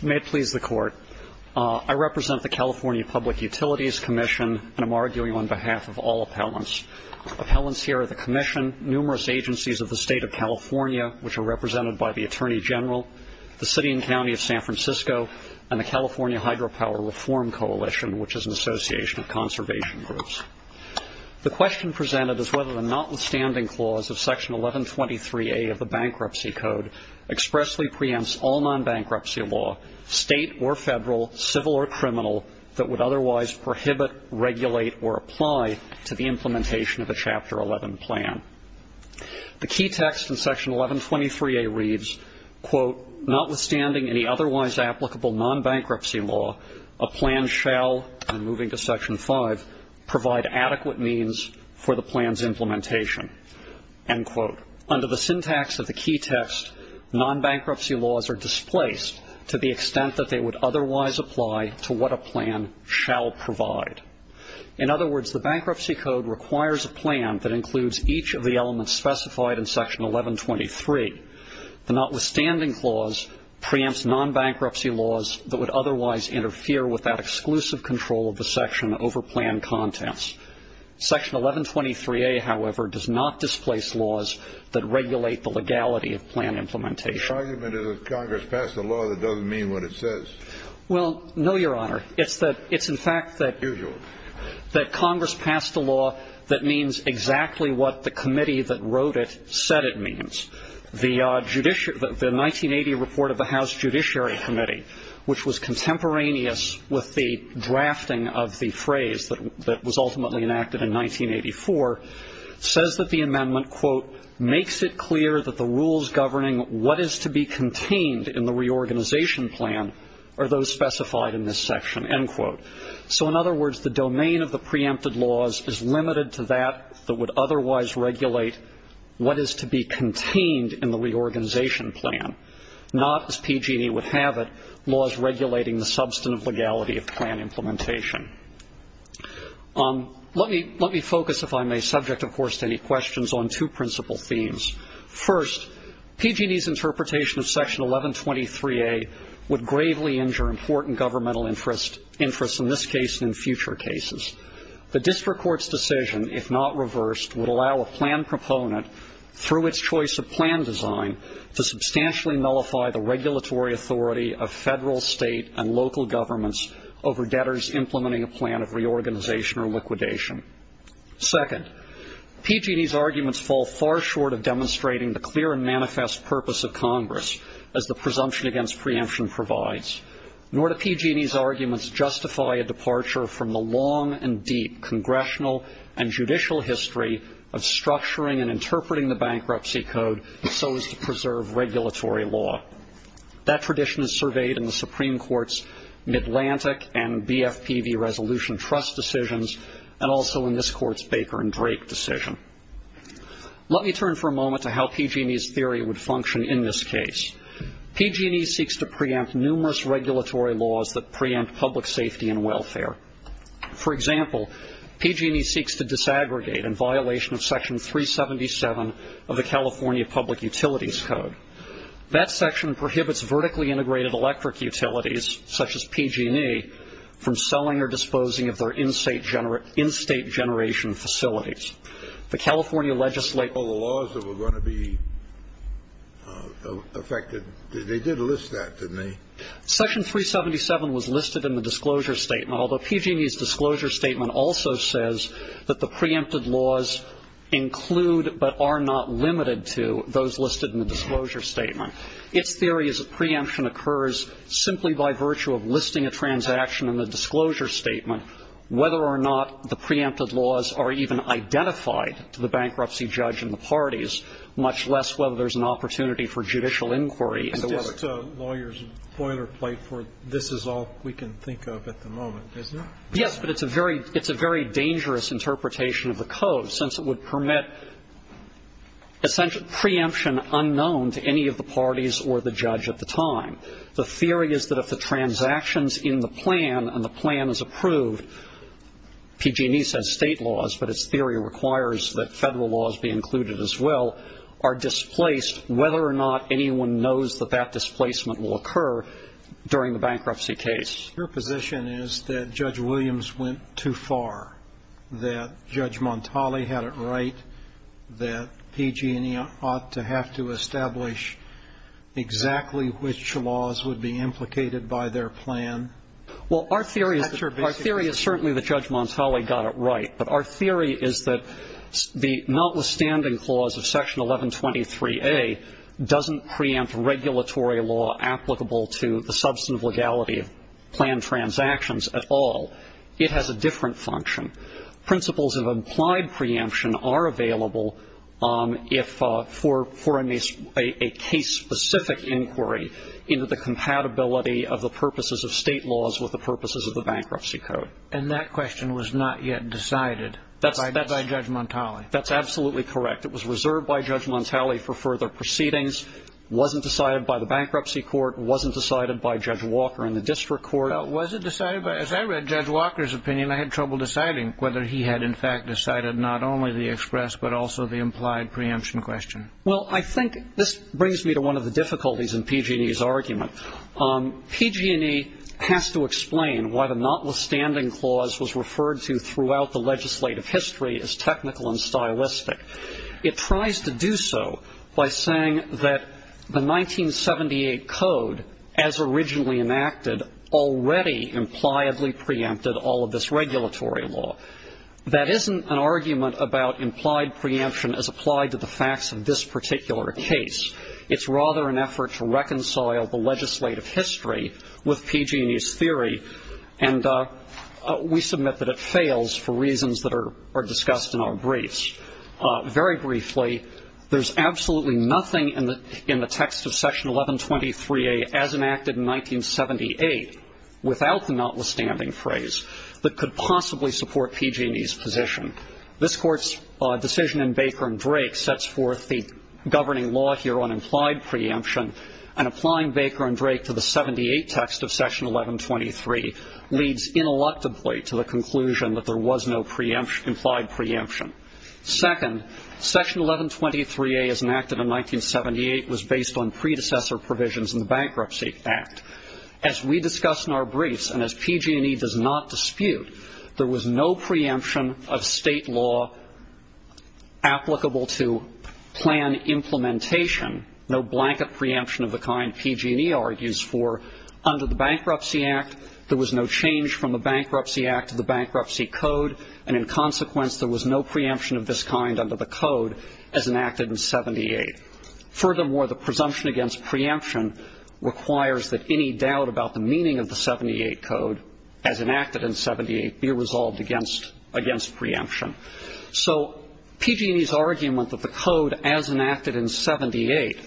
May it please the Court, I represent the California Public Utilities Commission and am arguing on behalf of all appellants. Appellants here are the Commission, numerous agencies of the State of California, which are represented by the Attorney General, the City and County of San Francisco, and the California Hydropower Reform Coalition, which is an association of conservation groups. The question presented is whether the notwithstanding clause of Section 1123A of the Bankruptcy Code expressly preempts all non-bankruptcy law, state or federal, civil or criminal, that would otherwise prohibit, regulate, or apply to the implementation of a Chapter 11 plan. The key text in Section 1123A reads, quote, Notwithstanding any otherwise applicable non-bankruptcy law, a plan shall, I'm moving to Section 5, provide adequate means for the plan's implementation. End quote. Under the syntax of the key text, non-bankruptcy laws are displaced to the extent that they would otherwise apply to what a plan shall provide. In other words, the Bankruptcy Code requires a plan that includes each of the elements specified in Section 1123. The notwithstanding clause preempts non-bankruptcy laws that would otherwise interfere with that exclusive control of the section over plan contents. Section 1123A, however, does not displace laws that regulate the legality of plan implementation. The argument is that Congress passed a law that doesn't mean what it says. Well, no, Your Honor. It's in fact that Congress passed a law that means exactly what the committee that wrote it said it means. The 1980 report of the House Judiciary Committee, which was contemporaneous with the drafting of the phrase that was ultimately enacted in 1984, says that the amendment, quote, makes it clear that the rules governing what is to be contained in the reorganization plan are those specified in this section. End quote. So, in other words, the domain of the preempted laws is limited to that that would otherwise regulate what is to be contained in the reorganization plan, not, as PG&E would have it, laws regulating the substantive legality of plan implementation. Let me focus, if I may, subject, of course, to any questions on two principal themes. First, PG&E's interpretation of Section 1123A would gravely injure important governmental interests, in this case and in future cases. The district court's decision, if not reversed, would allow a plan proponent, through its choice of plan design, to substantially nullify the regulatory authority of federal, state, and local governments over debtors implementing a plan of reorganization or liquidation. Second, PG&E's arguments fall far short of demonstrating the clear and manifest purpose of Congress, as the presumption against preemption provides. Nor do PG&E's arguments justify a departure from the long and deep congressional and judicial history of structuring and interpreting the Bankruptcy Code so as to preserve regulatory law. That tradition is surveyed in the Supreme Court's Midlantic and BFPV Resolution Trust decisions, and also in this Court's Baker and Drake decision. Let me turn for a moment to how PG&E's theory would function in this case. PG&E seeks to preempt numerous regulatory laws that preempt public safety and welfare. For example, PG&E seeks to disaggregate in violation of Section 377 of the California Public Utilities Code. That section prohibits vertically integrated electric utilities, such as PG&E, from selling or disposing of their in-state generation facilities. The California legislature ---- The laws that were going to be affected, they did list that, didn't they? Section 377 was listed in the disclosure statement, although PG&E's disclosure statement also says that the preempted laws include but are not limited to those listed in the disclosure statement. Its theory is that preemption occurs simply by virtue of listing a transaction in the disclosure statement, whether or not the preempted laws are even identified to the bankruptcy judge and the parties, much less whether there's an opportunity for judicial inquiry. And the lawyer's boilerplate for this is all we can think of at the moment, isn't it? Yes, but it's a very dangerous interpretation of the code, since it would permit essential preemption unknown to any of the parties or the judge at the time. The theory is that if the transactions in the plan and the plan is approved ---- PG&E says state laws, but its theory requires that Federal laws be included as well, are displaced whether or not anyone knows that that displacement will occur during the bankruptcy case. Your position is that Judge Williams went too far, that Judge Montali had it right, that PG&E ought to have to establish exactly which laws would be implicated by their plan? Well, our theory is certainly that Judge Montali got it right, but our theory is that the notwithstanding clause of Section 1123A doesn't preempt regulatory law applicable to the substantive legality of planned transactions at all. It has a different function. Principles of implied preemption are available for a case-specific inquiry into the compatibility of the purposes of state laws with the purposes of the bankruptcy code. And that question was not yet decided by Judge Montali? That's absolutely correct. It was reserved by Judge Montali for further proceedings. It wasn't decided by the bankruptcy court. It wasn't decided by Judge Walker in the district court. As I read Judge Walker's opinion, I had trouble deciding whether he had in fact decided not only the express but also the implied preemption question. Well, I think this brings me to one of the difficulties in PG&E's argument. PG&E has to explain why the notwithstanding clause was referred to throughout the legislative history as technical and stylistic. It tries to do so by saying that the 1978 code, as originally enacted, already impliedly preempted all of this regulatory law. That isn't an argument about implied preemption as applied to the facts of this particular case. It's rather an effort to reconcile the legislative history with PG&E's theory. And we submit that it fails for reasons that are discussed in our briefs. Very briefly, there's absolutely nothing in the text of Section 1123A as enacted in 1978 without the notwithstanding phrase that could possibly support PG&E's position. This Court's decision in Baker and Drake sets forth the governing law here on implied preemption, and applying Baker and Drake to the 78 text of Section 1123 leads ineluctably to the conclusion that there was no implied preemption. Second, Section 1123A as enacted in 1978 was based on predecessor provisions in the Bankruptcy Act. As we discussed in our briefs, and as PG&E does not dispute, there was no preemption of State law applicable to plan implementation, no blanket preemption of the kind PG&E argues for under the Bankruptcy Act. There was no change from the Bankruptcy Act to the Bankruptcy Code, and in consequence, there was no preemption of this kind under the Code as enacted in 1978. Furthermore, the presumption against preemption requires that any doubt about the meaning of the 78 Code as enacted in 78 be resolved against preemption. So PG&E's argument that the Code as enacted in 78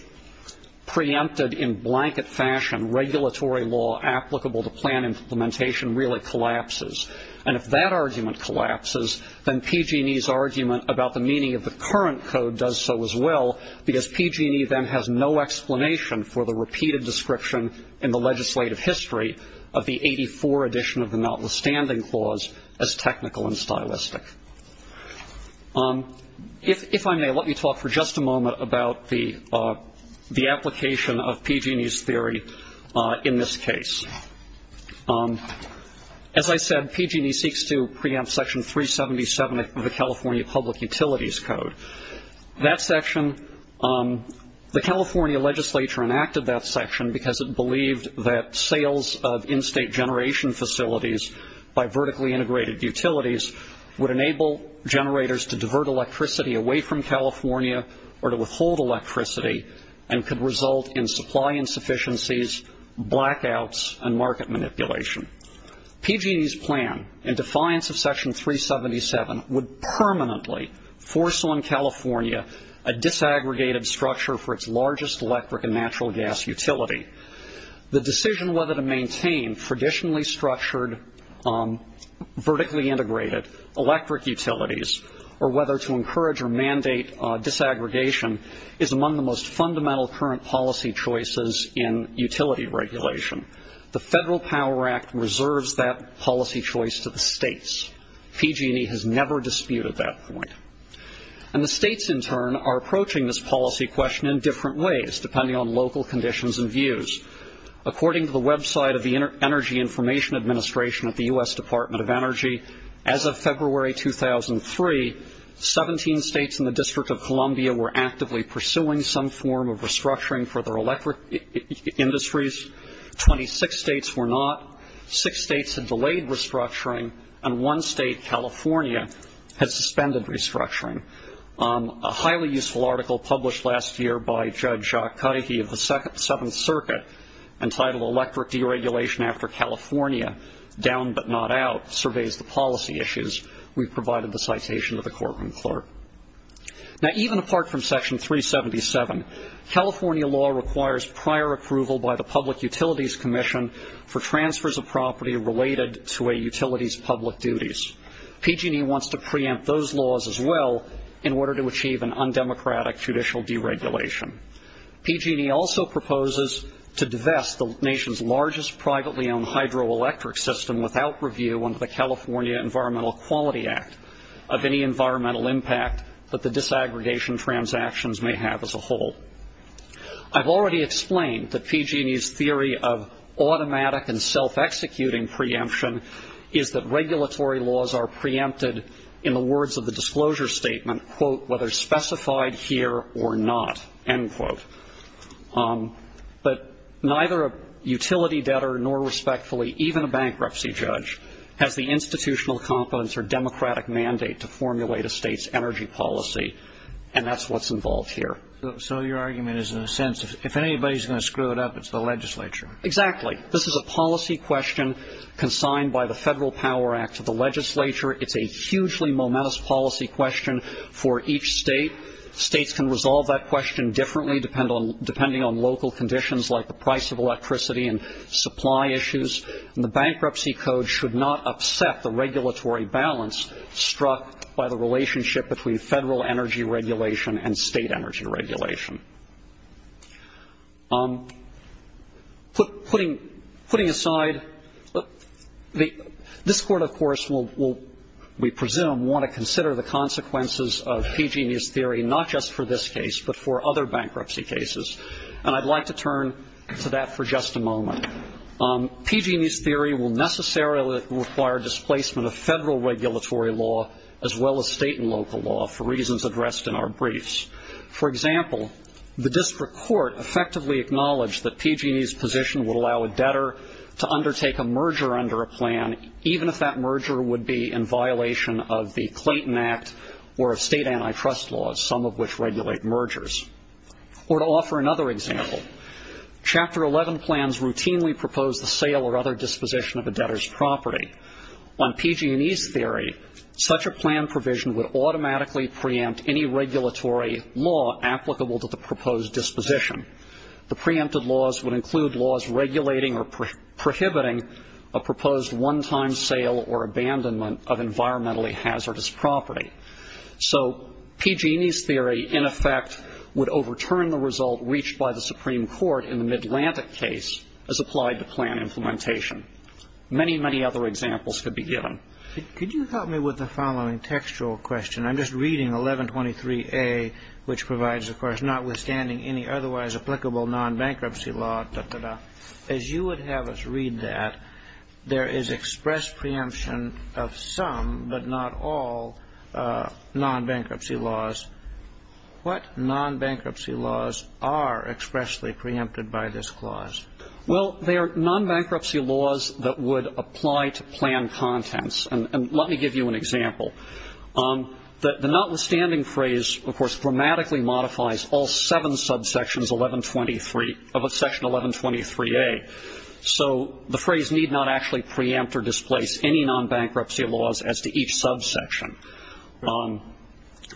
preempted in blanket fashion regulatory law applicable to plan implementation really collapses. And if that argument collapses, then PG&E's argument about the meaning of the current Code does so as well, because PG&E then has no explanation for the repeated description in the legislative history of the 84 edition of the Notwithstanding Clause as technical and stylistic. If I may, let me talk for just a moment about the application of PG&E's theory in this case. As I said, PG&E seeks to preempt Section 377 of the California Public Utilities Code. That section, the California legislature enacted that section because it believed that sales of in-state generation facilities by vertically integrated utilities would enable generators to divert electricity away from California or to withhold electricity and could result in supply insufficiencies, blackouts, and market manipulation. PG&E's plan in defiance of Section 377 would permanently force on California a disaggregated structure for its largest electric and natural gas utility. The decision whether to maintain traditionally structured, vertically integrated electric utilities or whether to encourage or mandate disaggregation is among the most fundamental current policy choices in utility regulation. The Federal Power Act reserves that policy choice to the states. PG&E has never disputed that point. And the states, in turn, are approaching this policy question in different ways, depending on local conditions and views. According to the website of the Energy Information Administration of the U.S. Department of Energy, as of February 2003, 17 states in the District of Columbia were actively pursuing some form of restructuring for their electric industries. Twenty-six states were not. Six states had delayed restructuring. And one state, California, has suspended restructuring. A highly useful article published last year by Judge Jacques Cahie of the Seventh Circuit, entitled Electric Deregulation After California, Down But Not Out, surveys the policy issues. We've provided the citation to the courtroom clerk. Now, even apart from Section 377, California law requires prior approval by the Public Utilities Commission for transfers of property related to a utility's public duties. PG&E wants to preempt those laws as well in order to achieve an undemocratic judicial deregulation. PG&E also proposes to divest the nation's largest privately owned hydroelectric system without review under the California Environmental Quality Act of any environmental impact that the disaggregation transactions may have as a whole. I've already explained that PG&E's theory of automatic and self-executing preemption is that regulatory laws are preempted in the words of the disclosure statement, quote, whether specified here or not, end quote. But neither a utility debtor nor respectfully even a bankruptcy judge has the institutional competence or democratic mandate to formulate a state's energy policy, and that's what's involved here. So your argument is, in a sense, if anybody's going to screw it up, it's the legislature. Exactly. This is a policy question consigned by the Federal Power Act to the legislature. It's a hugely momentous policy question for each state. States can resolve that question differently depending on local conditions like the price of electricity and supply issues. And the Bankruptcy Code should not upset the regulatory balance struck by the regulation. Putting aside, this Court, of course, will, we presume, want to consider the consequences of PG&E's theory not just for this case but for other bankruptcy cases. And I'd like to turn to that for just a moment. PG&E's theory will necessarily require displacement of federal regulatory law as well as state and local law for reasons addressed in our briefs. For example, the district court effectively acknowledged that PG&E's position would allow a debtor to undertake a merger under a plan, even if that merger would be in violation of the Clayton Act or of state antitrust laws, some of which regulate mergers. Or to offer another example, Chapter 11 plans routinely propose the sale or other disposition of a debtor's property. On PG&E's theory, such a plan provision would automatically preempt any regulatory law applicable to the proposed disposition. The preempted laws would include laws regulating or prohibiting a proposed one-time sale or abandonment of environmentally hazardous property. So PG&E's theory, in effect, would overturn the result reached by the Supreme Court in the Midlantic case as applied to plan implementation. Many, many other examples could be given. Could you help me with the following textual question? I'm just reading 1123A, which provides, of course, notwithstanding any otherwise applicable non-bankruptcy law, da-da-da. As you would have us read that, there is express preemption of some, but not all, non-bankruptcy laws. What non-bankruptcy laws are expressly preempted by this clause? Well, they are non-bankruptcy laws that would apply to plan contents. And let me give you an example. The notwithstanding phrase, of course, grammatically modifies all seven subsections of Section 1123A. So the phrase need not actually preempt or displace any non-bankruptcy laws as to each subsection.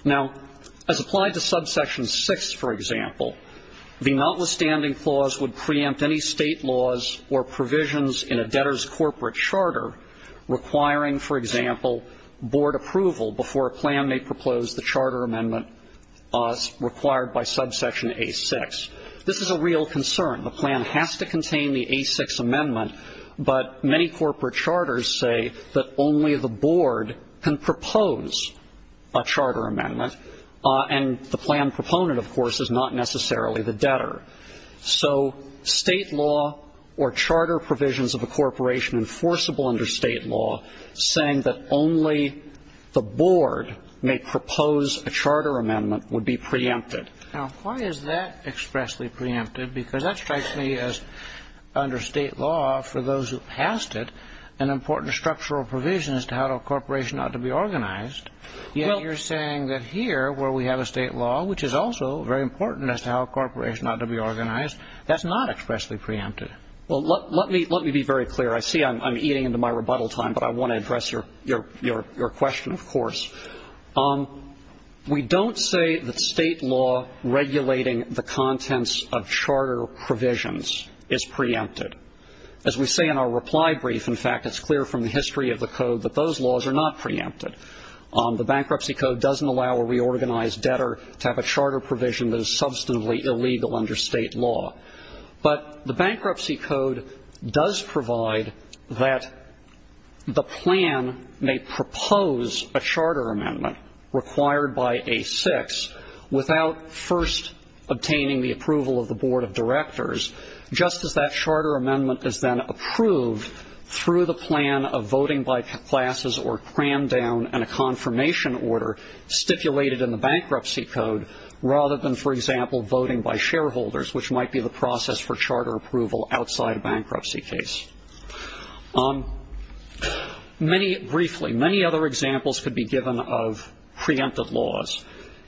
Now, as applied to subsection 6, for example, the notwithstanding clause would preempt any State laws or provisions in a debtor's corporate charter requiring, for example, board approval before a plan may propose the charter amendment required by subsection A-6. This is a real concern. The plan has to contain the A-6 amendment, but many corporate charters say that only the board can propose a charter amendment. And the plan proponent, of course, is not necessarily the debtor. So State law or charter provisions of a corporation enforceable under State law saying that only the board may propose a charter amendment would be preempted. Now, why is that expressly preempted? Because that strikes me as, under State law, for those who passed it an important structural provision as to how a corporation ought to be organized. Yet you're saying that here, where we have a State law, which is also very important as to how a corporation ought to be organized, that's not expressly preempted. Well, let me be very clear. I see I'm eating into my rebuttal time, but I want to address your question, of course. We don't say that State law regulating the contents of charter provisions is preempted. As we say in our reply brief, in fact, it's clear from the history of the Code that those laws are not preempted. The Bankruptcy Code doesn't allow a reorganized debtor to have a charter provision that is substantively illegal under State law. But the Bankruptcy Code does provide that the plan may propose a charter amendment required by A-6 without first obtaining the approval of the Board of Directors, just as that charter amendment is then approved through the plan of voting by classes or crammed down in a confirmation order stipulated in the Bankruptcy Code, rather than, for example, voting by shareholders, which might be the process for charter approval outside a bankruptcy case. Briefly, many other examples could be given of preempted laws.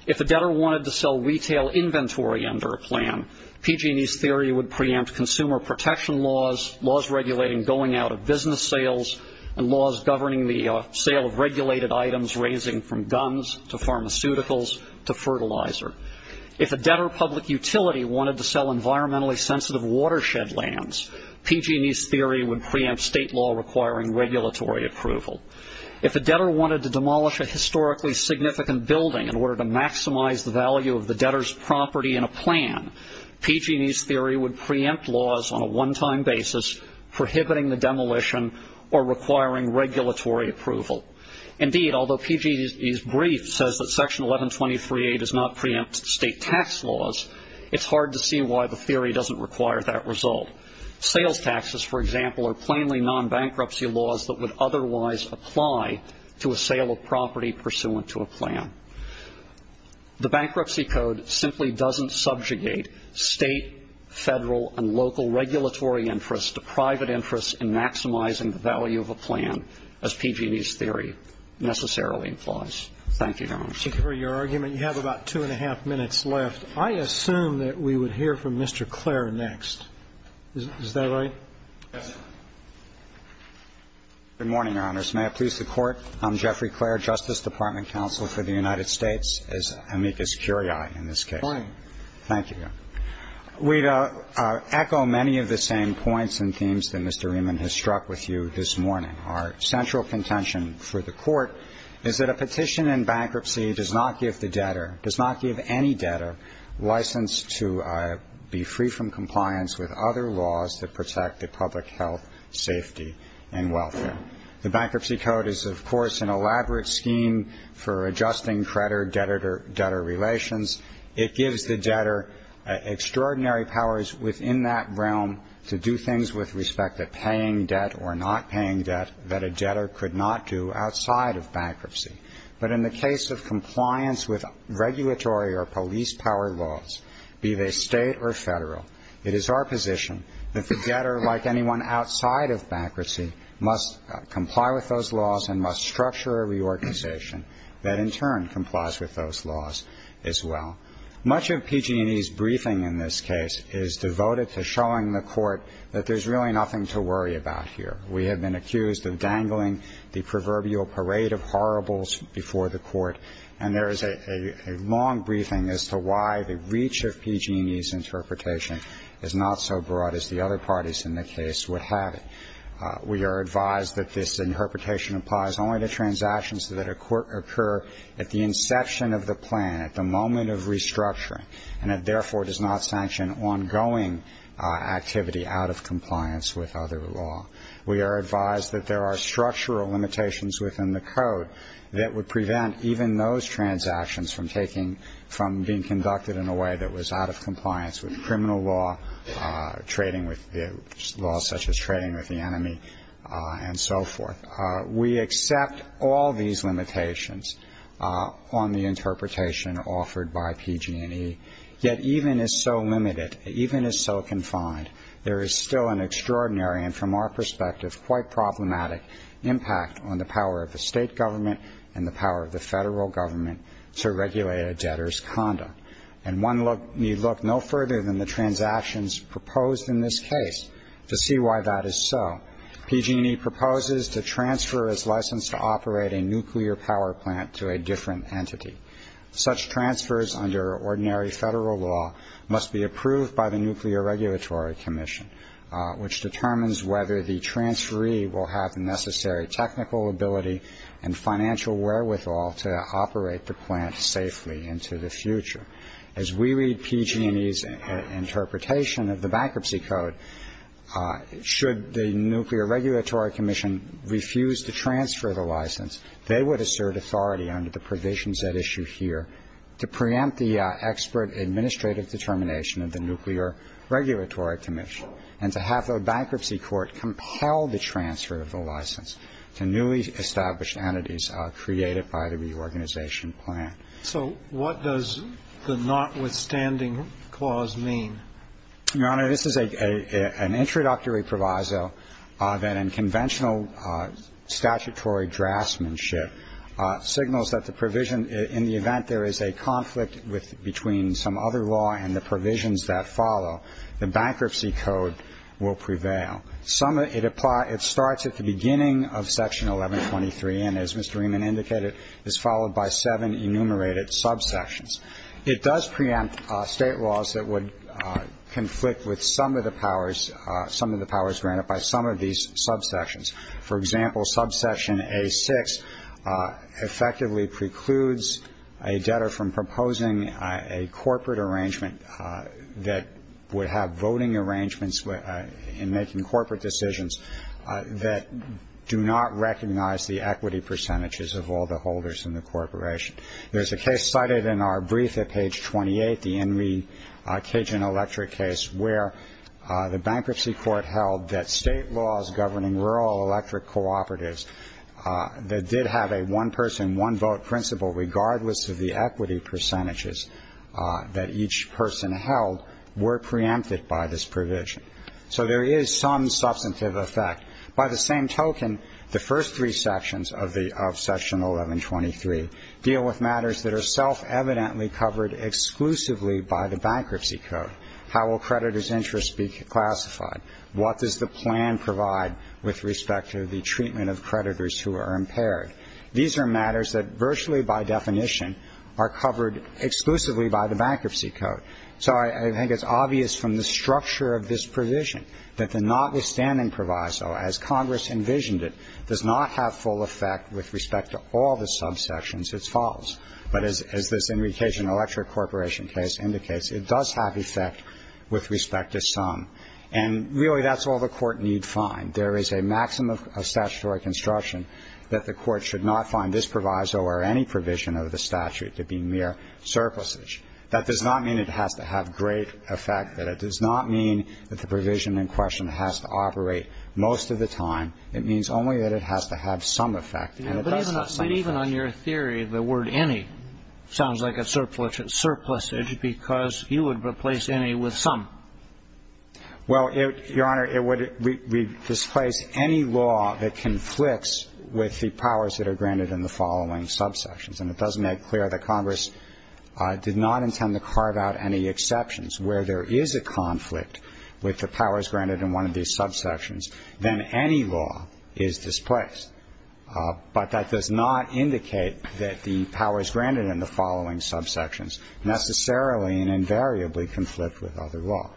If a debtor wanted to sell retail inventory under a plan, PG&E's theory would preempt consumer protection laws, laws regulating going out of business sales, and laws governing the sale of regulated items raising from guns to pharmaceuticals to fertilizer. If a debtor public utility wanted to sell environmentally sensitive watershed lands, PG&E's theory would preempt State law requiring regulatory approval. If a debtor wanted to demolish a historically significant building in order to maximize the value of the debtor's property in a plan, PG&E's theory would preempt laws on a one-time basis, prohibiting the demolition or requiring regulatory approval. Indeed, although PG&E's brief says that Section 1123A does not preempt State tax laws, it's hard to see why the theory doesn't require that result. Sales taxes, for example, are plainly non-bankruptcy laws that would otherwise apply to a sale of property pursuant to a plan. The Bankruptcy Code simply doesn't subjugate State, Federal, and local regulatory interests to private interests in maximizing the value of a plan, as PG&E's theory necessarily implies. Thank you, Your Honor. Thank you for your argument. You have about two and a half minutes left. I assume that we would hear from Mr. Clare next. Is that right? Yes, sir. Good morning, Your Honors. May I please support? I'm Jeffrey Clare, Justice Department Counsel for the United States, as amicus curiae in this case. Fine. Thank you, Your Honor. We echo many of the same points and themes that Mr. Rieman has struck with you this morning. Our central contention for the Court is that a petition in bankruptcy does not give the debtor, does not give any debtor license to be free from compliance with other laws that protect the public health, safety, and welfare. The Bankruptcy Code is, of course, an elaborate scheme for adjusting creditor-debtor relations. It gives the debtor extraordinary powers within that realm to do things with respect to paying debt or not paying debt that a debtor could not do outside of bankruptcy. But in the case of compliance with regulatory or police power laws, be they State or Federal, it is our position that the debtor, like anyone outside of bankruptcy, must comply with those laws and must structure a reorganization that in turn complies with those laws as well. Much of PG&E's briefing in this case is devoted to showing the Court that there's really nothing to worry about here. We have been accused of dangling the proverbial parade of horribles before the Court, and there is a long briefing as to why the reach of PG&E's interpretation is not so broad as the other parties in the case would have it. We are advised that this interpretation applies only to transactions that occur at the inception of the plan, at the moment of restructuring, and it therefore does not sanction ongoing activity out of compliance with other law. We are advised that there are structural limitations within the Code that would prevent even those transactions from taking – from being conducted in a way that was out of compliance with criminal law, trading with – laws such as trading with the enemy and so forth. We accept all these limitations on the interpretation offered by PG&E, yet even as so limited, even as so confined, there is still an extraordinary and, from our perspective, quite problematic impact on the power of the State government and the power of the Federal government to regulate a debtor's conduct. And one need look no further than the transactions proposed in this case to see why that is so. PG&E proposes to transfer its license to operate a nuclear power plant to a different entity. Such transfers under ordinary Federal law must be approved by the Nuclear Regulatory Commission, which determines whether the transferee will have the necessary technical ability and financial wherewithal to operate the plant safely into the future. As we read PG&E's interpretation of the Bankruptcy Code, should the Nuclear Regulatory Commission refuse to transfer the license, they would assert authority under the provisions at issue here to preempt the expert administrative determination of the Nuclear Regulatory Commission and to have the bankruptcy court compel the transfer of the license to newly established entities created by the reorganization plan. So what does the notwithstanding clause mean? Your Honor, this is an introductory proviso that in conventional statutory draftsmanship signals that the provision, in the event there is a conflict between some other law and the provisions that follow, the Bankruptcy Code will prevail. It starts at the beginning of Section 1123 and, as Mr. Rieman indicated, is followed by seven enumerated subsections. It does preempt state laws that would conflict with some of the powers granted by some of these subsections. For example, Subsection A6 effectively precludes a debtor from proposing a corporate arrangement that would have voting arrangements in making corporate decisions that do not recognize the equity percentages of all the holders in the corporation. There is a case cited in our brief at page 28, the Henry Cajun Electric case, where the bankruptcy court held that state laws governing rural electric cooperatives that did have a one-person, one-vote principle regardless of the equity percentages that each person held were preempted by this provision. So there is some substantive effect. By the same token, the first three sections of the of Section 1123 deal with matters that are self-evidently covered exclusively by the Bankruptcy Code. How will creditors' interests be classified? What does the plan provide with respect to the treatment of creditors who are impaired? These are matters that virtually by definition are covered exclusively by the Bankruptcy Code. So I think it's obvious from the structure of this provision that the notwithstanding proviso as Congress envisioned it does not have full effect with respect to all the subsections as follows, but as this Henry Cajun Electric Corporation case indicates, it does have effect with respect to some. And really that's all the Court need find. There is a maximum of statutory construction that the Court should not find this proviso or any provision of the statute to be mere surpluses. That does not mean it has to have great effect, that it does not mean that the provision in question has to operate most of the time. It means only that it has to have some effect. And it does have some effect. But even on your theory, the word any sounds like a surplusage because you would replace any with some. Well, Your Honor, it would displace any law that conflicts with the powers that are granted in the following subsections. And it does make clear that Congress did not intend to carve out any exceptions. Where there is a conflict with the powers granted in one of these subsections, then any law is displaced. But that does not indicate that the powers granted in the following subsections necessarily and invariably conflict with other law.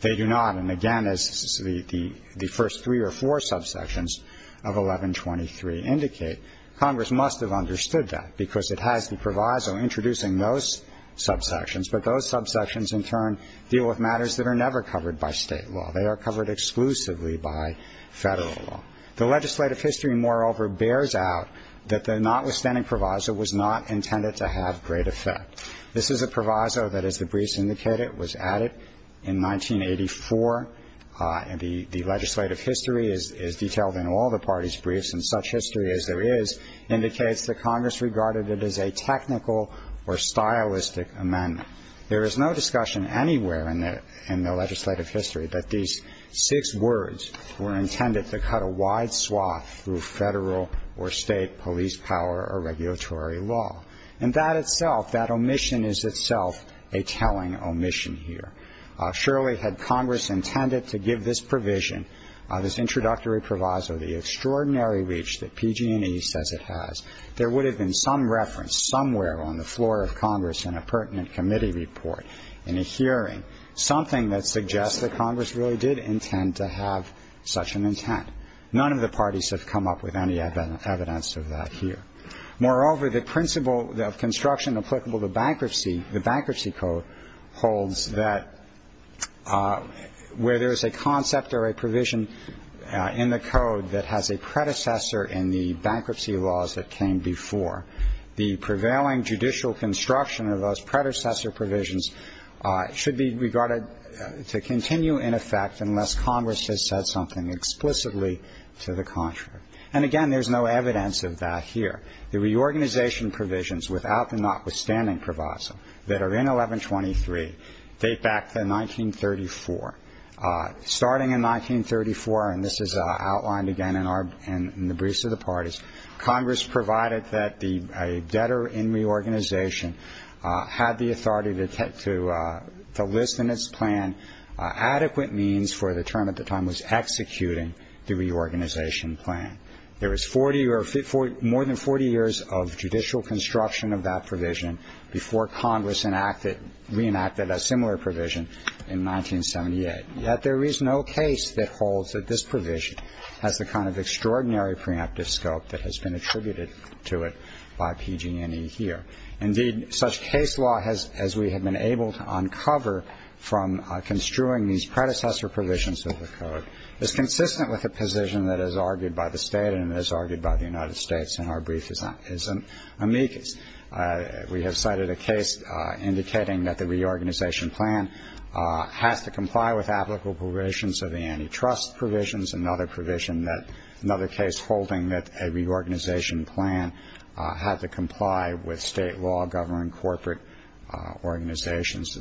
They do not. And, again, as the first three or four subsections of 1123 indicate, Congress must have understood that because it has the proviso introducing those subsections. But those subsections, in turn, deal with matters that are never covered by State law. They are covered exclusively by Federal law. The legislative history, moreover, bears out that the notwithstanding proviso was not intended to have great effect. This is a proviso that, as the briefs indicate it, was added in 1984. And the legislative history is detailed in all the parties' briefs, and such history as there is indicates that Congress regarded it as a technical or stylistic amendment. There is no discussion anywhere in the legislative history that these six words were intended to cut a wide swath through Federal or State police power or regulatory law. And that itself, that omission is itself a telling omission here. Surely had Congress intended to give this provision, this introductory proviso, the extraordinary reach that PG&E says it has, there would have been some reference somewhere on the floor of Congress in a pertinent committee report, in a hearing, something that suggests that Congress really did intend to have such an intent. None of the parties have come up with any evidence of that here. Moreover, the principle of construction applicable to bankruptcy, the Bankruptcy Code, holds that where there is a concept or a provision in the Code that has a predecessor in the bankruptcy laws that came before, the prevailing judicial construction of those predecessor provisions should be regarded to continue in effect unless Congress has said something explicitly to the contrary. And, again, there's no evidence of that here. The reorganization provisions, without the notwithstanding proviso, that are in 1123 date back to 1934. Starting in 1934, and this is outlined again in the briefs of the parties, Congress provided that a debtor in reorganization had the authority to list in its plan adequate means for the term at the time was executing the reorganization plan. There was more than 40 years of judicial construction of that provision before Congress reenacted a similar provision in 1978. Yet there is no case that holds that this provision has the kind of extraordinary preemptive scope that has been attributed to it by PG&E here. Indeed, such case law as we have been able to uncover from construing these predecessor provisions of the code is consistent with the position that is argued by the state and is argued by the United States, and our brief is amicus. We have cited a case indicating that the reorganization plan has to comply with applicable provisions of the antitrust provisions, another provision that another case holding that a reorganization plan had to comply with state law governing corporate organizations.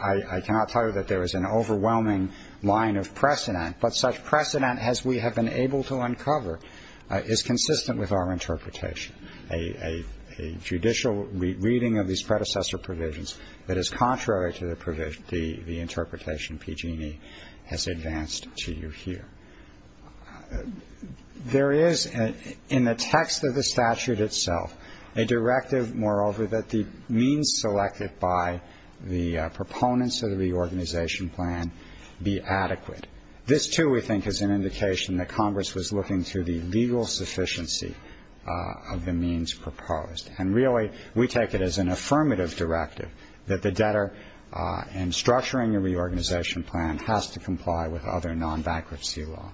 I cannot tell you that there is an overwhelming line of precedent, but such precedent as we have been able to uncover is consistent with our interpretation. A judicial reading of these predecessor provisions that is contrary to the interpretation PG&E has advanced to you here. There is in the text of the statute itself a directive, moreover, that the means selected by the proponents of the reorganization plan be adequate. This, too, we think is an indication that Congress was looking to the legal sufficiency of the means proposed. And really we take it as an affirmative directive that the debtor in structuring a reorganization plan has to comply with other non-bankruptcy law.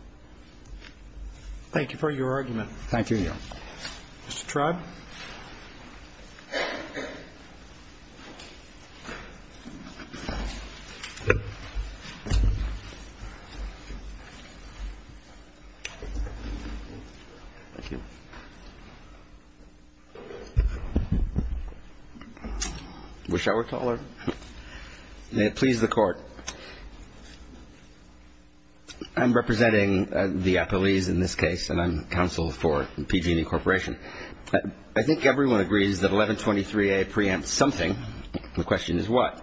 Thank you for your argument. Thank you, Your Honor. Mr. Tribe. I wish I were taller. May it please the Court. I'm representing the appellees in this case, and I'm counsel for PG&E Corporation. I think everyone agrees that 1123A preempts something. The question is what.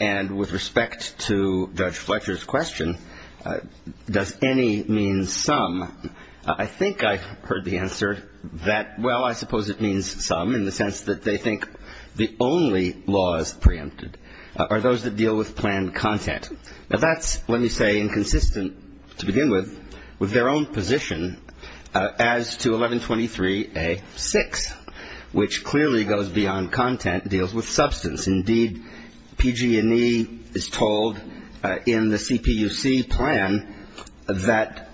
And with respect to Judge Fletcher's question, does any mean some, I think I heard the answer that, well, I suppose it means some in the sense that they think the only laws preempted are those that deal with planned content. Now, that's, let me say, inconsistent to begin with, with their own position as to 1123A-6, which clearly goes beyond content, deals with substance. Indeed, PG&E is told in the CPUC plan that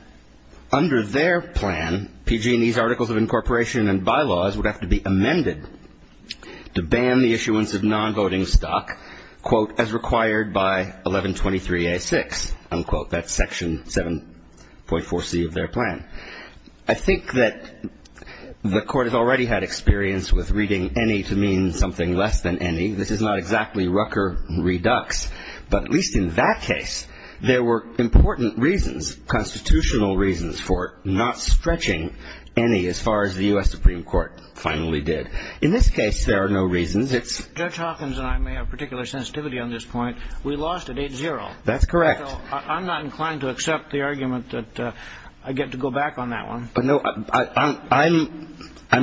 under their plan, PG&E's articles of incorporation and bylaws would have to be amended to ban the issuance of nonvoting stock, quote, as required by 1123A-6, unquote. That's Section 7.4C of their plan. I think that the Court has already had experience with reading any to mean something less than any. This is not exactly Rucker redux, but at least in that case, there were important reasons, constitutional reasons for not stretching any as far as the U.S. Supreme Court finally did. In this case, there are no reasons. Judge Hawkins and I may have particular sensitivity on this point. We lost at 8-0. That's correct. I'm not inclined to accept the argument that I get to go back on that one. No, I'm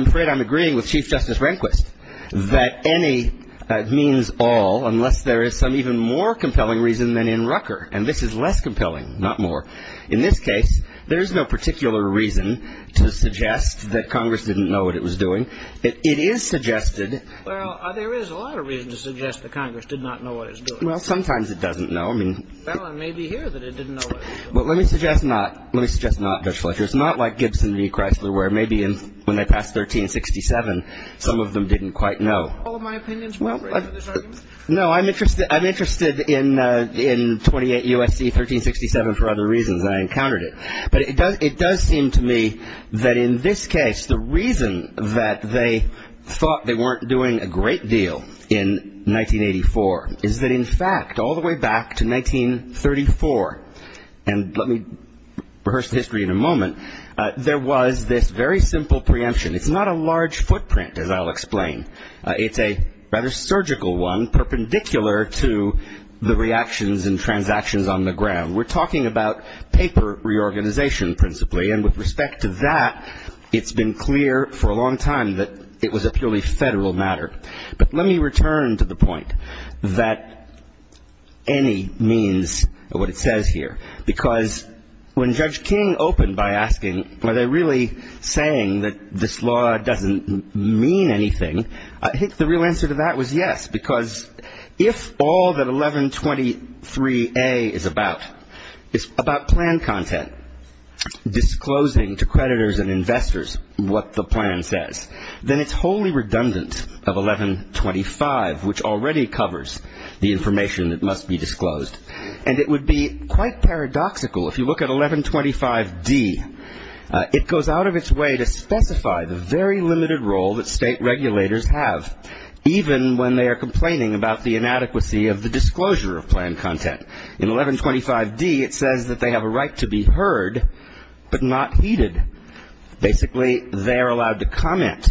afraid I'm agreeing with Chief Justice Rehnquist that any means all unless there is some even more compelling reason than in Rucker, and this is less compelling, not more. In this case, there is no particular reason to suggest that Congress didn't know what it was doing. It is suggested — Well, there is a lot of reason to suggest that Congress did not know what it was doing. Well, sometimes it doesn't know. I mean — Well, it may be here that it didn't know what it was doing. Well, let me suggest not. Let me suggest not, Judge Fletcher. It's not like Gibson v. Chrysler where maybe when they passed 1367, some of them didn't quite know. All of my opinions were raised in this argument. No, I'm interested in 28 U.S.C. 1367 for other reasons, and I encountered it. But it does seem to me that in this case the reason that they thought they weren't doing a great deal in 1984 is that, in fact, all the way back to 1934, and let me rehearse the history in a moment, there was this very simple preemption. It's not a large footprint, as I'll explain. It's a rather surgical one, perpendicular to the reactions and transactions on the ground. We're talking about paper reorganization principally, and with respect to that, it's been clear for a long time that it was a purely federal matter. But let me return to the point that any means of what it says here, because when Judge King opened by asking, are they really saying that this law doesn't mean anything, I think the real answer to that was yes, because if all that 1123A is about is about plan content, disclosing to creditors and investors what the plan says, then it's wholly redundant of 1125, which already covers the information that must be disclosed. And it would be quite paradoxical, if you look at 1125D, it goes out of its way to specify the very limited role that state regulators have, even when they are complaining about the inadequacy of the disclosure of plan content. In 1125D, it says that they have a right to be heard, but not heeded. Basically, they are allowed to comment.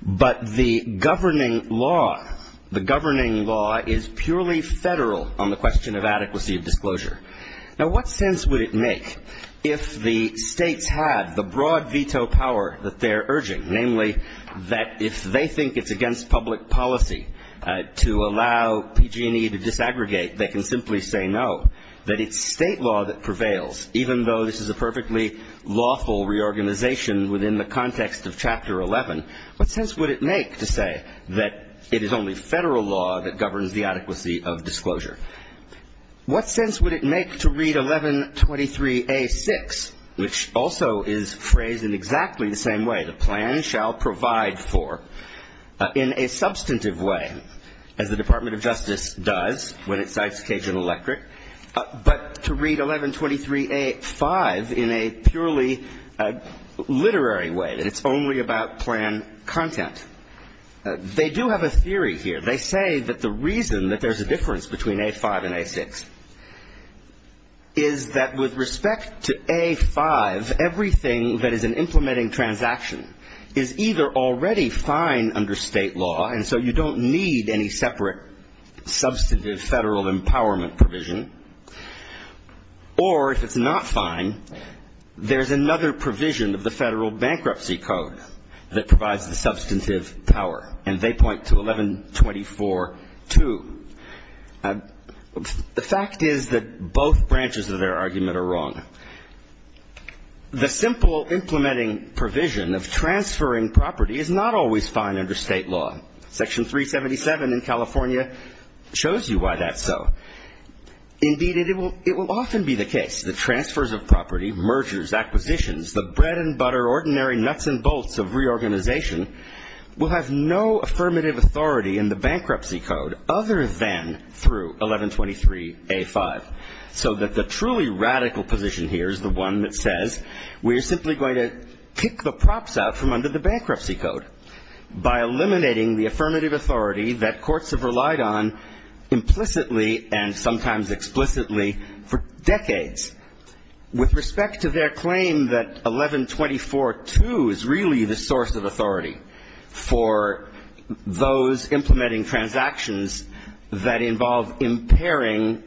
But the governing law, the governing law is purely federal on the question of adequacy of disclosure. Now, what sense would it make if the states had the broad veto power that they're urging, namely that if they think it's against public policy to allow PG&E to disaggregate, they can simply say no, that it's state law that prevails, even though this is a perfectly lawful reorganization within the context of Chapter 11. What sense would it make to say that it is only federal law that governs the adequacy of disclosure? What sense would it make to read 1123A.6, which also is phrased in exactly the same way, the plan shall provide for, in a substantive way, as the Department of Justice does when it cites Cajun Electric, but to read 1123A.5 in a purely literary way, that it's only about plan content? They do have a theory here. They say that the reason that there's a difference between A.5 and A.6 is that with respect to A.5, everything that is an implementing transaction is either already fine under state law, and so you don't need any separate substantive federal empowerment provision, or if it's not fine, there's another provision of the federal bankruptcy code that provides the substantive power. And they point to 1124.2. The fact is that both branches of their argument are wrong. The simple implementing provision of transferring property is not always fine under state law. Section 377 in California shows you why that's so. Indeed, it will often be the case that transfers of property, mergers, acquisitions, the bread and butter, ordinary nuts and bolts of reorganization, will have no affirmative authority in the bankruptcy code other than through 1123A.5, so that the truly radical position here is the one that says we're simply going to pick the props out from under the bankruptcy code by eliminating the affirmative authority that courts have relied on implicitly and sometimes explicitly for decades. With respect to their claim that 1124.2 is really the source of authority for those implementing transactions that involve impairing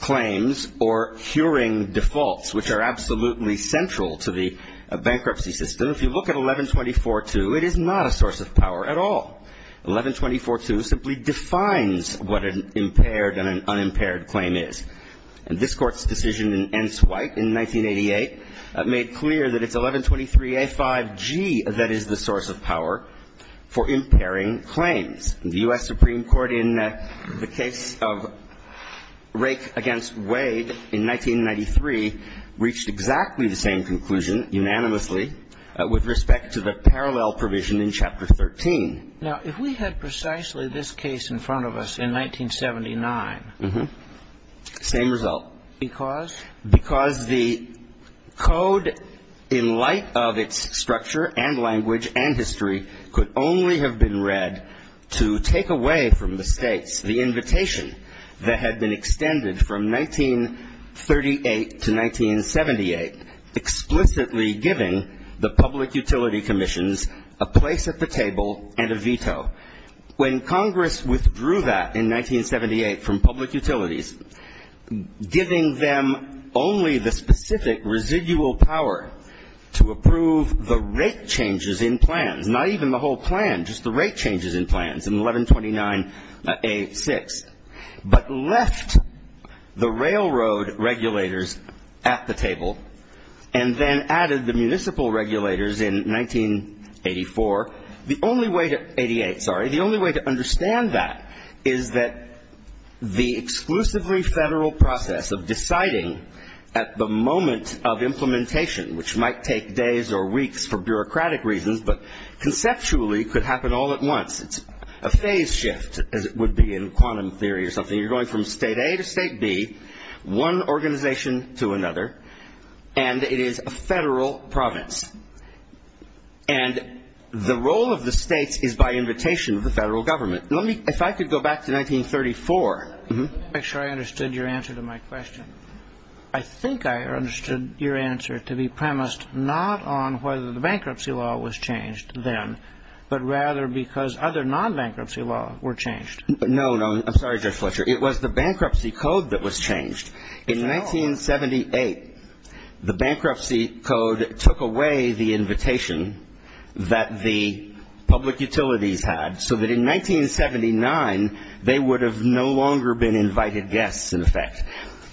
claims or curing defaults, which are absolutely central to the bankruptcy system, if you look at 1124.2, it is not a source of power at all. 1124.2 simply defines what an impaired and an unimpaired claim is. And this Court's decision in Enswite in 1988 made clear that it's 1123A.5g that is the source of power for impairing claims. The U.S. Supreme Court in the case of Rake v. Wade in 1993 reached exactly the same conclusion unanimously with respect to the parallel provision in Chapter 13. Now, if we had precisely this case in front of us in 1979. Same result. Because? Because the code in light of its structure and language and history could only have been read to take away from the States the invitation that had been extended from 1938 to 1978, explicitly giving the public utility commissions a place at the table and a veto. When Congress withdrew that in 1978 from public utilities, giving them only the specific residual power to approve the rate changes in plans, not even the whole plan, just the rate changes in plans in 1129A.6, but left the railroad regulators at the table and then added the municipal regulators in 1984, the only way to 88, sorry, the only way to understand that is that the exclusively federal process of deciding at the moment of implementation, which might take days or weeks for bureaucratic reasons, but conceptually could happen all at once. It's a phase shift, as it would be in quantum theory or something. You're going from State A to State B, one organization to another, and it is a federal province. And the role of the States is by invitation of the federal government. If I could go back to 1934. To make sure I understood your answer to my question. I think I understood your answer to be premised not on whether the bankruptcy law was changed then, but rather because other non-bankruptcy law were changed. No, no. I'm sorry, Judge Fletcher. It was the bankruptcy code that was changed. In 1978, the bankruptcy code took away the invitation that the public utilities had, so that in 1979 they would have no longer been invited guests, in effect.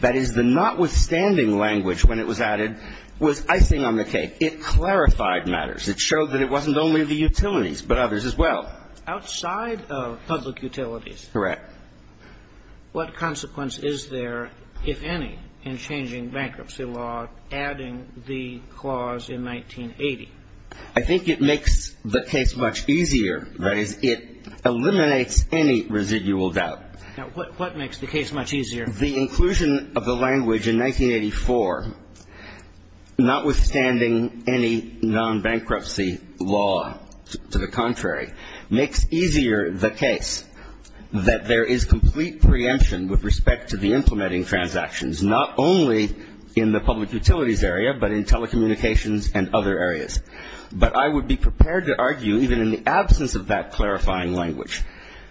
That is, the notwithstanding language when it was added was icing on the cake. It clarified matters. It showed that it wasn't only the utilities, but others as well. Outside of public utilities. Correct. What consequence is there, if any, in changing bankruptcy law, adding the clause in 1980? I think it makes the case much easier. That is, it eliminates any residual doubt. Now, what makes the case much easier? The inclusion of the language in 1984, notwithstanding any non-bankruptcy law to the contrary, makes easier the case that there is complete preemption with respect to the implementing transactions, not only in the public utilities area, but in telecommunications and other areas. But I would be prepared to argue, even in the absence of that clarifying language,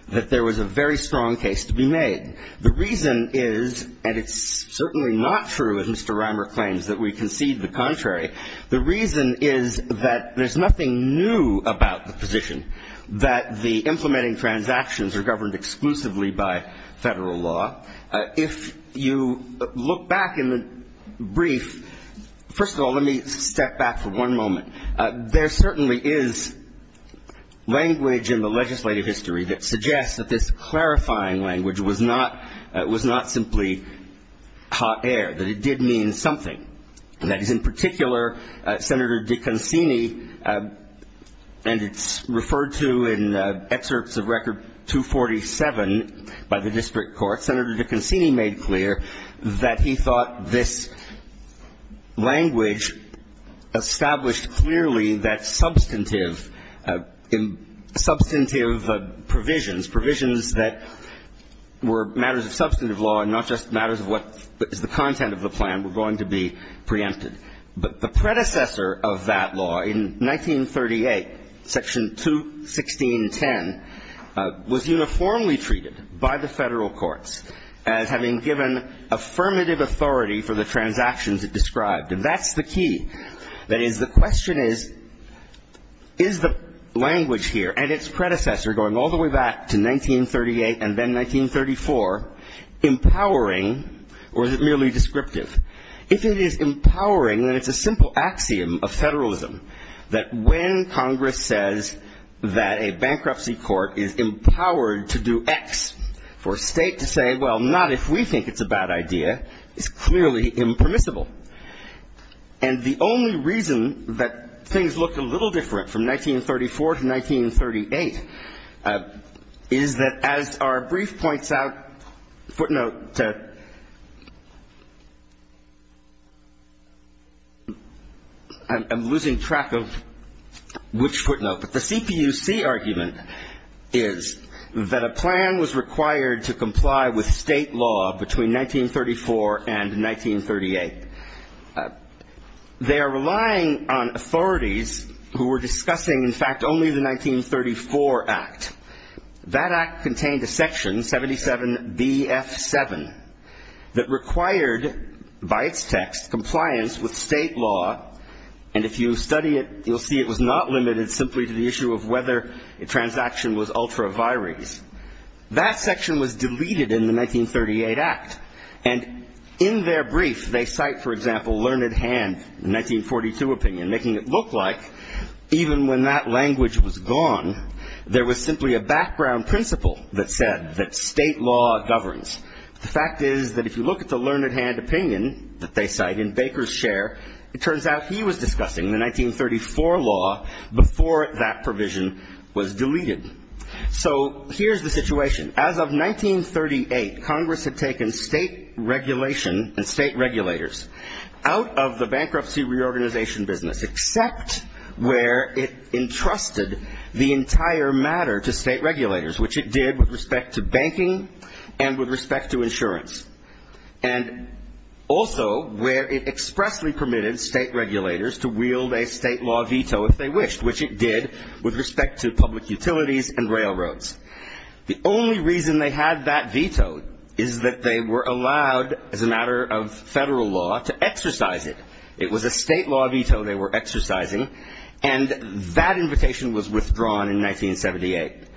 that there was a very strong case to be made. The reason is, and it's certainly not true, as Mr. Reimer claims, that we concede the contrary. The reason is that there's nothing new about the position that the implementing transactions are governed exclusively by Federal law. If you look back in the brief, first of all, let me step back for one moment. There certainly is language in the legislative history that suggests that this clarifying language was not simply hot air, that it did mean something. That is, in particular, Senator Dicconcini, and it's referred to in excerpts of Record 247 by the district court, Senator Dicconcini made clear that he thought this language established clearly that substantive provisions, provisions that were matters of substantive law and not just matters of what is the content of the plan, were going to be preempted. But the predecessor of that law, in 1938, Section 216.10, was uniformly treated by the Federal courts as having given affirmative authority for the transactions it described. And that's the key. That is, the question is, is the language here and its predecessor going all the way back to 1938 and then 1934 empowering or is it merely descriptive? If it is empowering, then it's a simple axiom of Federalism that when Congress says that a bankruptcy court is empowered to do X, for a state to say, well, not if we think it's a bad idea, is clearly impermissible. And the only reason that things look a little different from 1934 to 1938 is that, as our brief points out, footnote, I'm losing track of which footnote. But the CPUC argument is that a plan was required to comply with state law between 1934 and 1938. They are relying on authorities who were discussing, in fact, only the 1934 Act. That Act contained a section, 77BF7, that required, by its text, compliance with state law. And if you study it, you'll see it was not limited simply to the issue of whether a transaction was ultra viris. That section was deleted in the 1938 Act. And in their brief, they cite, for example, Learned Hand, the 1942 opinion, making it look like, even when that language was gone, there was simply a background principle that said that state law governs. The fact is that if you look at the Learned Hand opinion that they cite in Baker's share, it turns out he was discussing the 1934 law before that provision was deleted. So here's the situation. As of 1938, Congress had taken state regulation and state regulators out of the bankruptcy reorganization business, except where it entrusted the entire matter to state regulators, which it did with respect to banking and with respect to insurance, and also where it expressly permitted state regulators to wield a state law veto if they wished, which it did with respect to public utilities and railroads. The only reason they had that veto is that they were allowed, as a matter of federal law, to exercise it. It was a state law veto they were exercising, and that invitation was withdrawn in 1978. It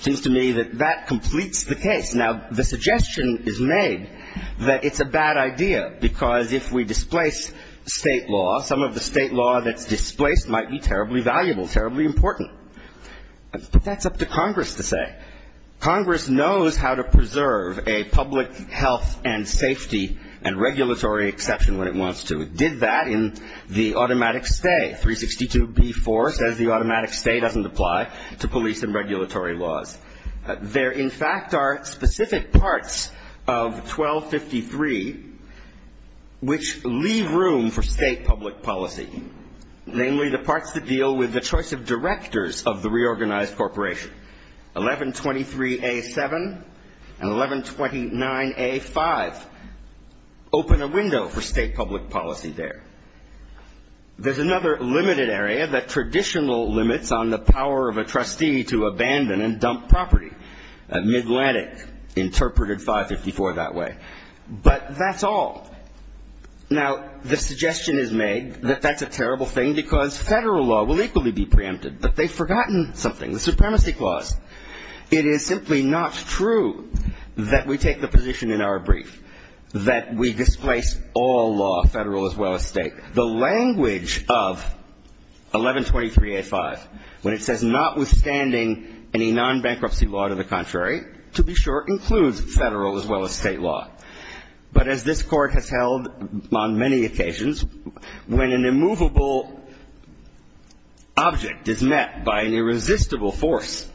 seems to me that that completes the case. Now, the suggestion is made that it's a bad idea because if we displace state law, some of the state law that's displaced might be terribly valuable, terribly important. But that's up to Congress to say. Congress knows how to preserve a public health and safety and regulatory exception when it wants to. It did that in the automatic stay. 362b-4 says the automatic stay doesn't apply to police and regulatory laws. There, in fact, are specific parts of 1253 which leave room for state public policy, namely the parts that deal with the choice of directors of the reorganized corporation. 1123a-7 and 1129a-5 open a window for state public policy there. There's another limited area that traditional limits on the power of a trustee to abandon and dump property, Midlantic interpreted 554 that way. But that's all. Now, the suggestion is made that that's a terrible thing because federal law will equally be preempted. But they've forgotten something, the Supremacy Clause. It is simply not true that we take the position in our brief that we displace all law, federal as well as state. The language of 1123a-5, when it says notwithstanding any non-bankruptcy law to the contrary, to be sure, includes federal as well as state law. But as this Court has held on many occasions, when an immovable object is met by an irresistible force,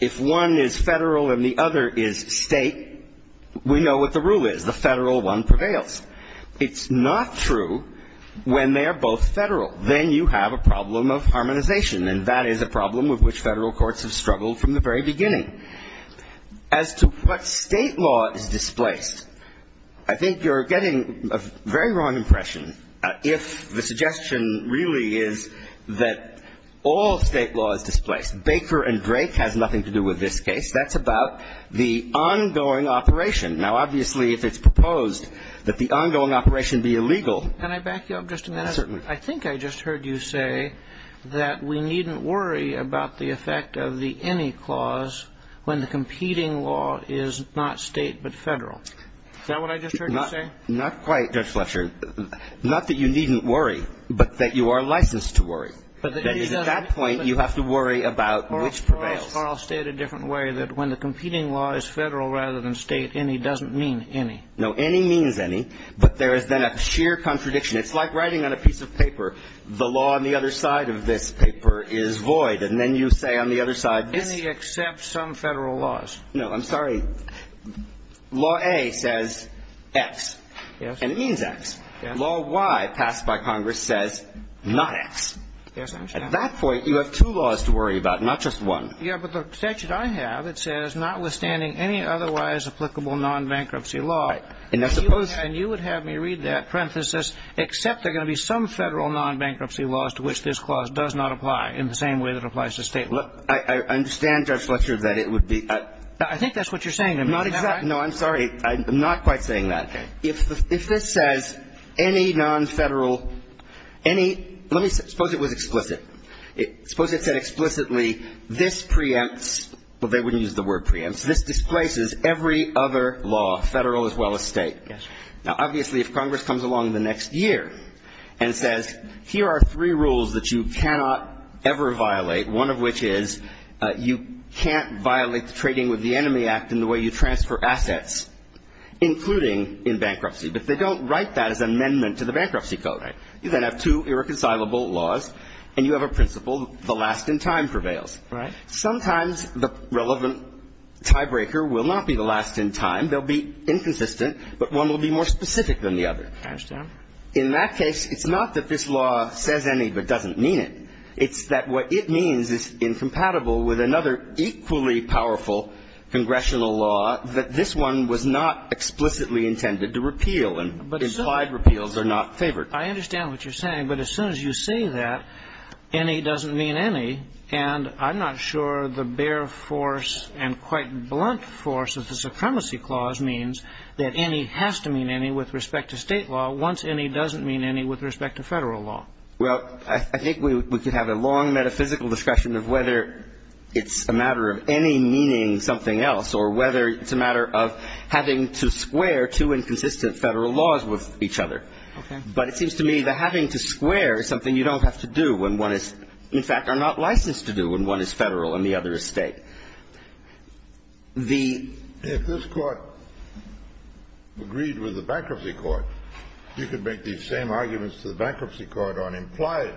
if one is federal and the other is state, we know what the rule is. The federal one prevails. It's not true when they are both federal. Then you have a problem of harmonization, and that is a problem with which federal courts have struggled from the very beginning. As to what state law is displaced, I think you're getting a very wrong impression if the suggestion really is that all state law is displaced. Baker and Drake has nothing to do with this case. That's about the ongoing operation. Now, obviously, if it's proposed that the ongoing operation be illegal, certainly. I think I just heard you say that we needn't worry about the effect of the any clause when the competing law is not state but federal. Is that what I just heard you say? Not quite, Judge Fletcher. Not that you needn't worry, but that you are licensed to worry. That is, at that point, you have to worry about which prevails. Or I'll state it a different way, that when the competing law is federal rather than state, any doesn't mean any. No, any means any. But there is then a sheer contradiction. It's like writing on a piece of paper, the law on the other side of this paper is void, and then you say on the other side, this is. Any except some federal laws. No, I'm sorry. Law A says X. Yes. And it means X. Yes. Law Y passed by Congress says not X. Yes, I'm sorry. At that point, you have two laws to worry about, not just one. Yes, but the statute I have, it says, notwithstanding any otherwise applicable non-bankruptcy law. Right. And you would have me read that parenthesis, except there are going to be some federal non-bankruptcy laws to which this clause does not apply in the same way that it applies to state law. I understand, Judge Fletcher, that it would be. I think that's what you're saying to me. Not exactly. No, I'm sorry. I'm not quite saying that. If this says any non-federal, any – let me – suppose it was explicit. Suppose it said explicitly, this preempts – well, they wouldn't use the word preempts every other law, federal as well as state. Yes. Now, obviously, if Congress comes along the next year and says, here are three rules that you cannot ever violate, one of which is you can't violate the Trading with the Enemy Act in the way you transfer assets, including in bankruptcy, but they don't write that as amendment to the bankruptcy code. Right. You then have two irreconcilable laws, and you have a principle, the last in time prevails. Right. Sometimes the relevant tiebreaker will not be the last in time. They'll be inconsistent, but one will be more specific than the other. I understand. In that case, it's not that this law says any but doesn't mean it. It's that what it means is incompatible with another equally powerful congressional law that this one was not explicitly intended to repeal, and implied repeals are not favored. I understand what you're saying, but as soon as you say that, any doesn't mean any, and I'm not sure the bare force and quite blunt force of the Supremacy Clause means that any has to mean any with respect to state law once any doesn't mean any with respect to Federal law. Well, I think we could have a long metaphysical discussion of whether it's a matter of any meaning something else or whether it's a matter of having to square two inconsistent Federal laws with each other. Okay. But it seems to me that having to square is something you don't have to do when one is, in fact, are not licensed to do when one is Federal and the other is State. The ---- If this Court agreed with the Bankruptcy Court, you could make these same arguments to the Bankruptcy Court on implied.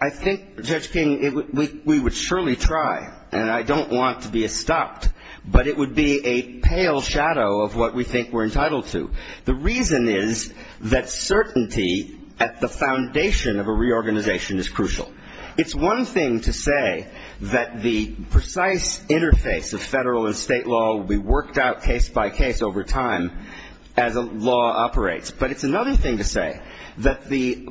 I think, Judge King, we would surely try, and I don't want to be stopped, but it would be a pale shadow of what we think we're entitled to. The reason is that certainty at the foundation of a reorganization is crucial. It's one thing to say that the precise interface of Federal and State law will be worked out case by case over time as a law operates. But it's another thing to say that the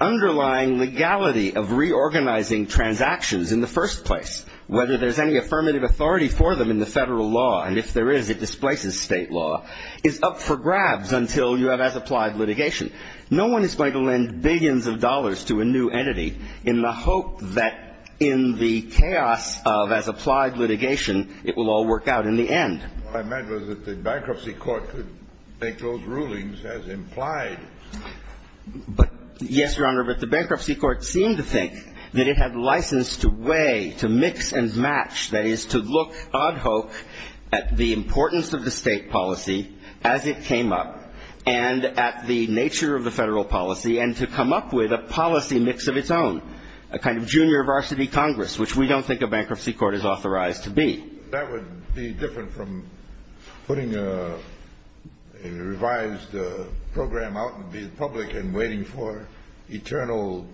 underlying legality of reorganizing transactions in the first place, whether there's any affirmative authority for them in the Federal law, and if there is, it displaces State law, is up for grabs until you have as-applied litigation. No one is going to lend billions of dollars to a new entity in the hope that in the chaos of as-applied litigation, it will all work out in the end. What I meant was that the Bankruptcy Court could make those rulings as implied. But, yes, Your Honor, but the Bankruptcy Court seemed to think that it had license to weigh, to mix and match, that is, to look ad hoc at the importance of the State policy as it came up, and at the nature of the Federal policy, and to come up with a policy mix of its own, a kind of junior varsity Congress, which we don't think a Bankruptcy Court is authorized to be. That would be different from putting a revised program out in the public and waiting for eternal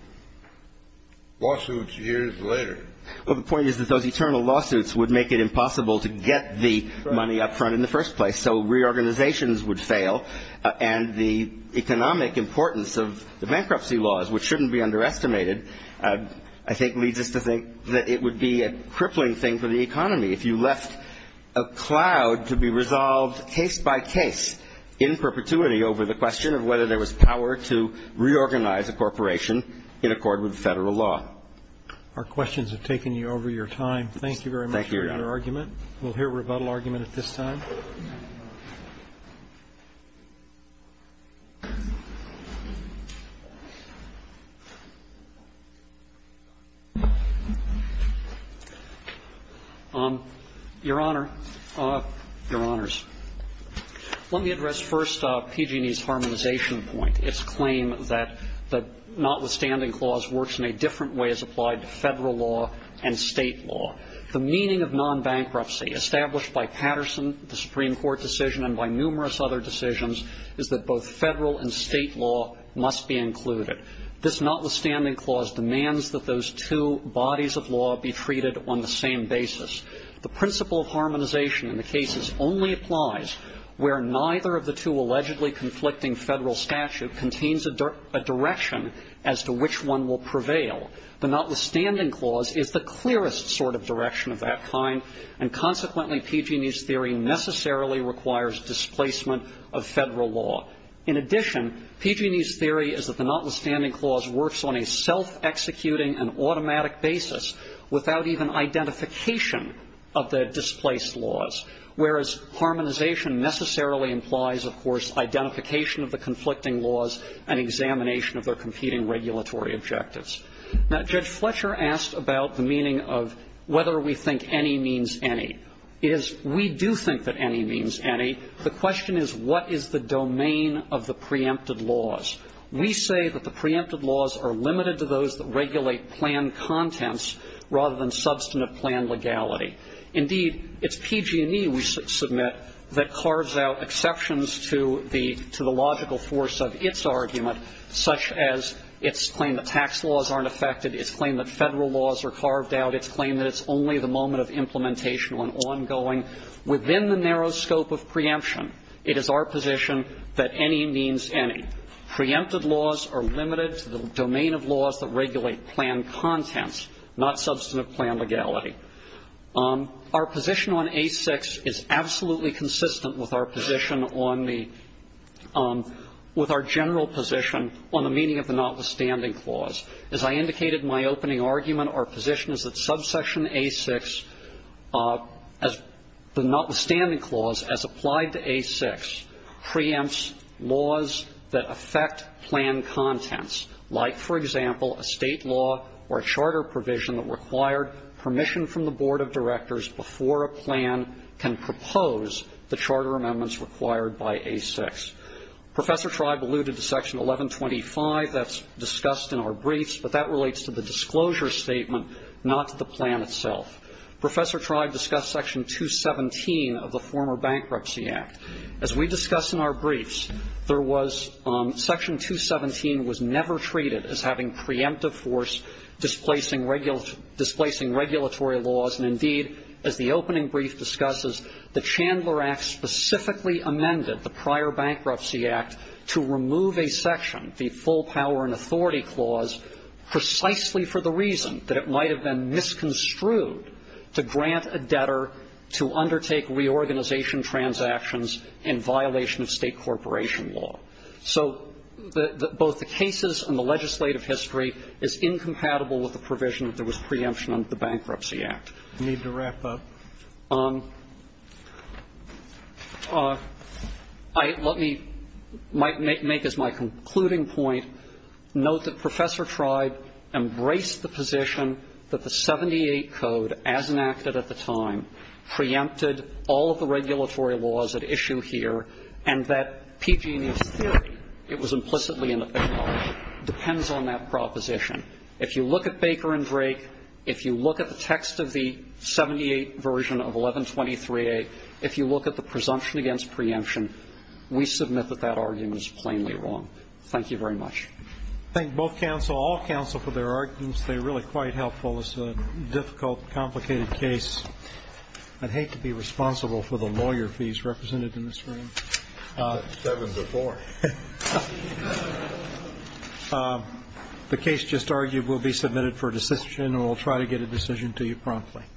lawsuits years later. Well, the point is that those eternal lawsuits would make it impossible to get the money up front in the first place, so reorganizations would fail, and the economic importance of the bankruptcy laws, which shouldn't be underestimated, I think leads us to think that it would be a crippling thing for the economy if you left a cloud to be resolved case by case in perpetuity over the question of whether there was power to reorganize a corporation in accord with Federal law. Our questions have taken you over your time. Thank you very much for your argument. Thank you, Your Honor. We'll hear rebuttal argument at this time. Your Honor, Your Honors. Let me address first PG&E's harmonization point, its claim that the notwithstanding clause works in a different way as applied to Federal law and State law. The meaning of nonbankruptcy established by Patterson, the Supreme Court decision, and by numerous other decisions is that both Federal and State law must be included. This notwithstanding clause demands that those two bodies of law be treated on the same basis. The principle of harmonization in the cases only applies where neither of the two allegedly conflicting Federal statute contains a direction as to which one will prevail. The notwithstanding clause is the clearest sort of direction of that kind, and consequently PG&E's theory necessarily requires displacement of Federal law. In addition, PG&E's theory is that the notwithstanding clause works on a self-executing and automatic basis without even identification of the displaced laws, whereas harmonization necessarily implies, of course, identification of the conflicting laws and examination of their competing regulatory objectives. Now, Judge Fletcher asked about the meaning of whether we think any means any. It is we do think that any means any. The question is what is the domain of the preempted laws. We say that the preempted laws are limited to those that regulate plan contents rather than substantive plan legality. Indeed, it's PG&E, we submit, that carves out exceptions to the logical force of its argument, such as its claim that tax laws aren't affected, its claim that Federal laws are carved out, its claim that it's only the moment of implementation on ongoing. Within the narrow scope of preemption, it is our position that any means any. Preempted laws are limited to the domain of laws that regulate plan contents, not substantive plan legality. Our position on A6 is absolutely consistent with our position on the – with our general position on the meaning of the Notwithstanding Clause. As I indicated in my opening argument, our position is that subsection A6, as – the Notwithstanding Clause, as applied to A6, preempts laws that affect plan contents, like, for example, a State law or a charter provision that required permission from the board of directors before a plan can propose the charter amendments required by A6. Professor Tribe alluded to Section 1125. That's discussed in our briefs, but that relates to the disclosure statement, not to the plan itself. Professor Tribe discussed Section 217 of the former Bankruptcy Act. As we discussed in our briefs, there was – Section 217 was never treated as having preemptive force displacing regulatory laws. And, indeed, as the opening brief discusses, the Chandler Act specifically amended the prior Bankruptcy Act to remove a section, the full power and authority clause, precisely for the reason that it might have been misconstrued to grant a debtor to undertake reorganization transactions in violation of State corporation law. So both the cases and the legislative history is incompatible with the provision that there was preemption under the Bankruptcy Act. I need to wrap up. Let me make as my concluding point, note that Professor Tribe embraced the position that the 78 Code, as enacted at the time, preempted all of the regulatory laws at issue here, and that PG&E's theory, it was implicitly an opinion, depends on that proposition. If you look at Baker and Drake, if you look at the text of the 78 version of 1123A, if you look at the presumption against preemption, we submit that that argument is plainly wrong. Thank you very much. Thank both counsel, all counsel, for their arguments. They're really quite helpful. It's a difficult, complicated case. I'd hate to be responsible for the lawyer fees represented in this room. That was before. The case just argued will be submitted for decision, and we'll try to get a decision to you promptly.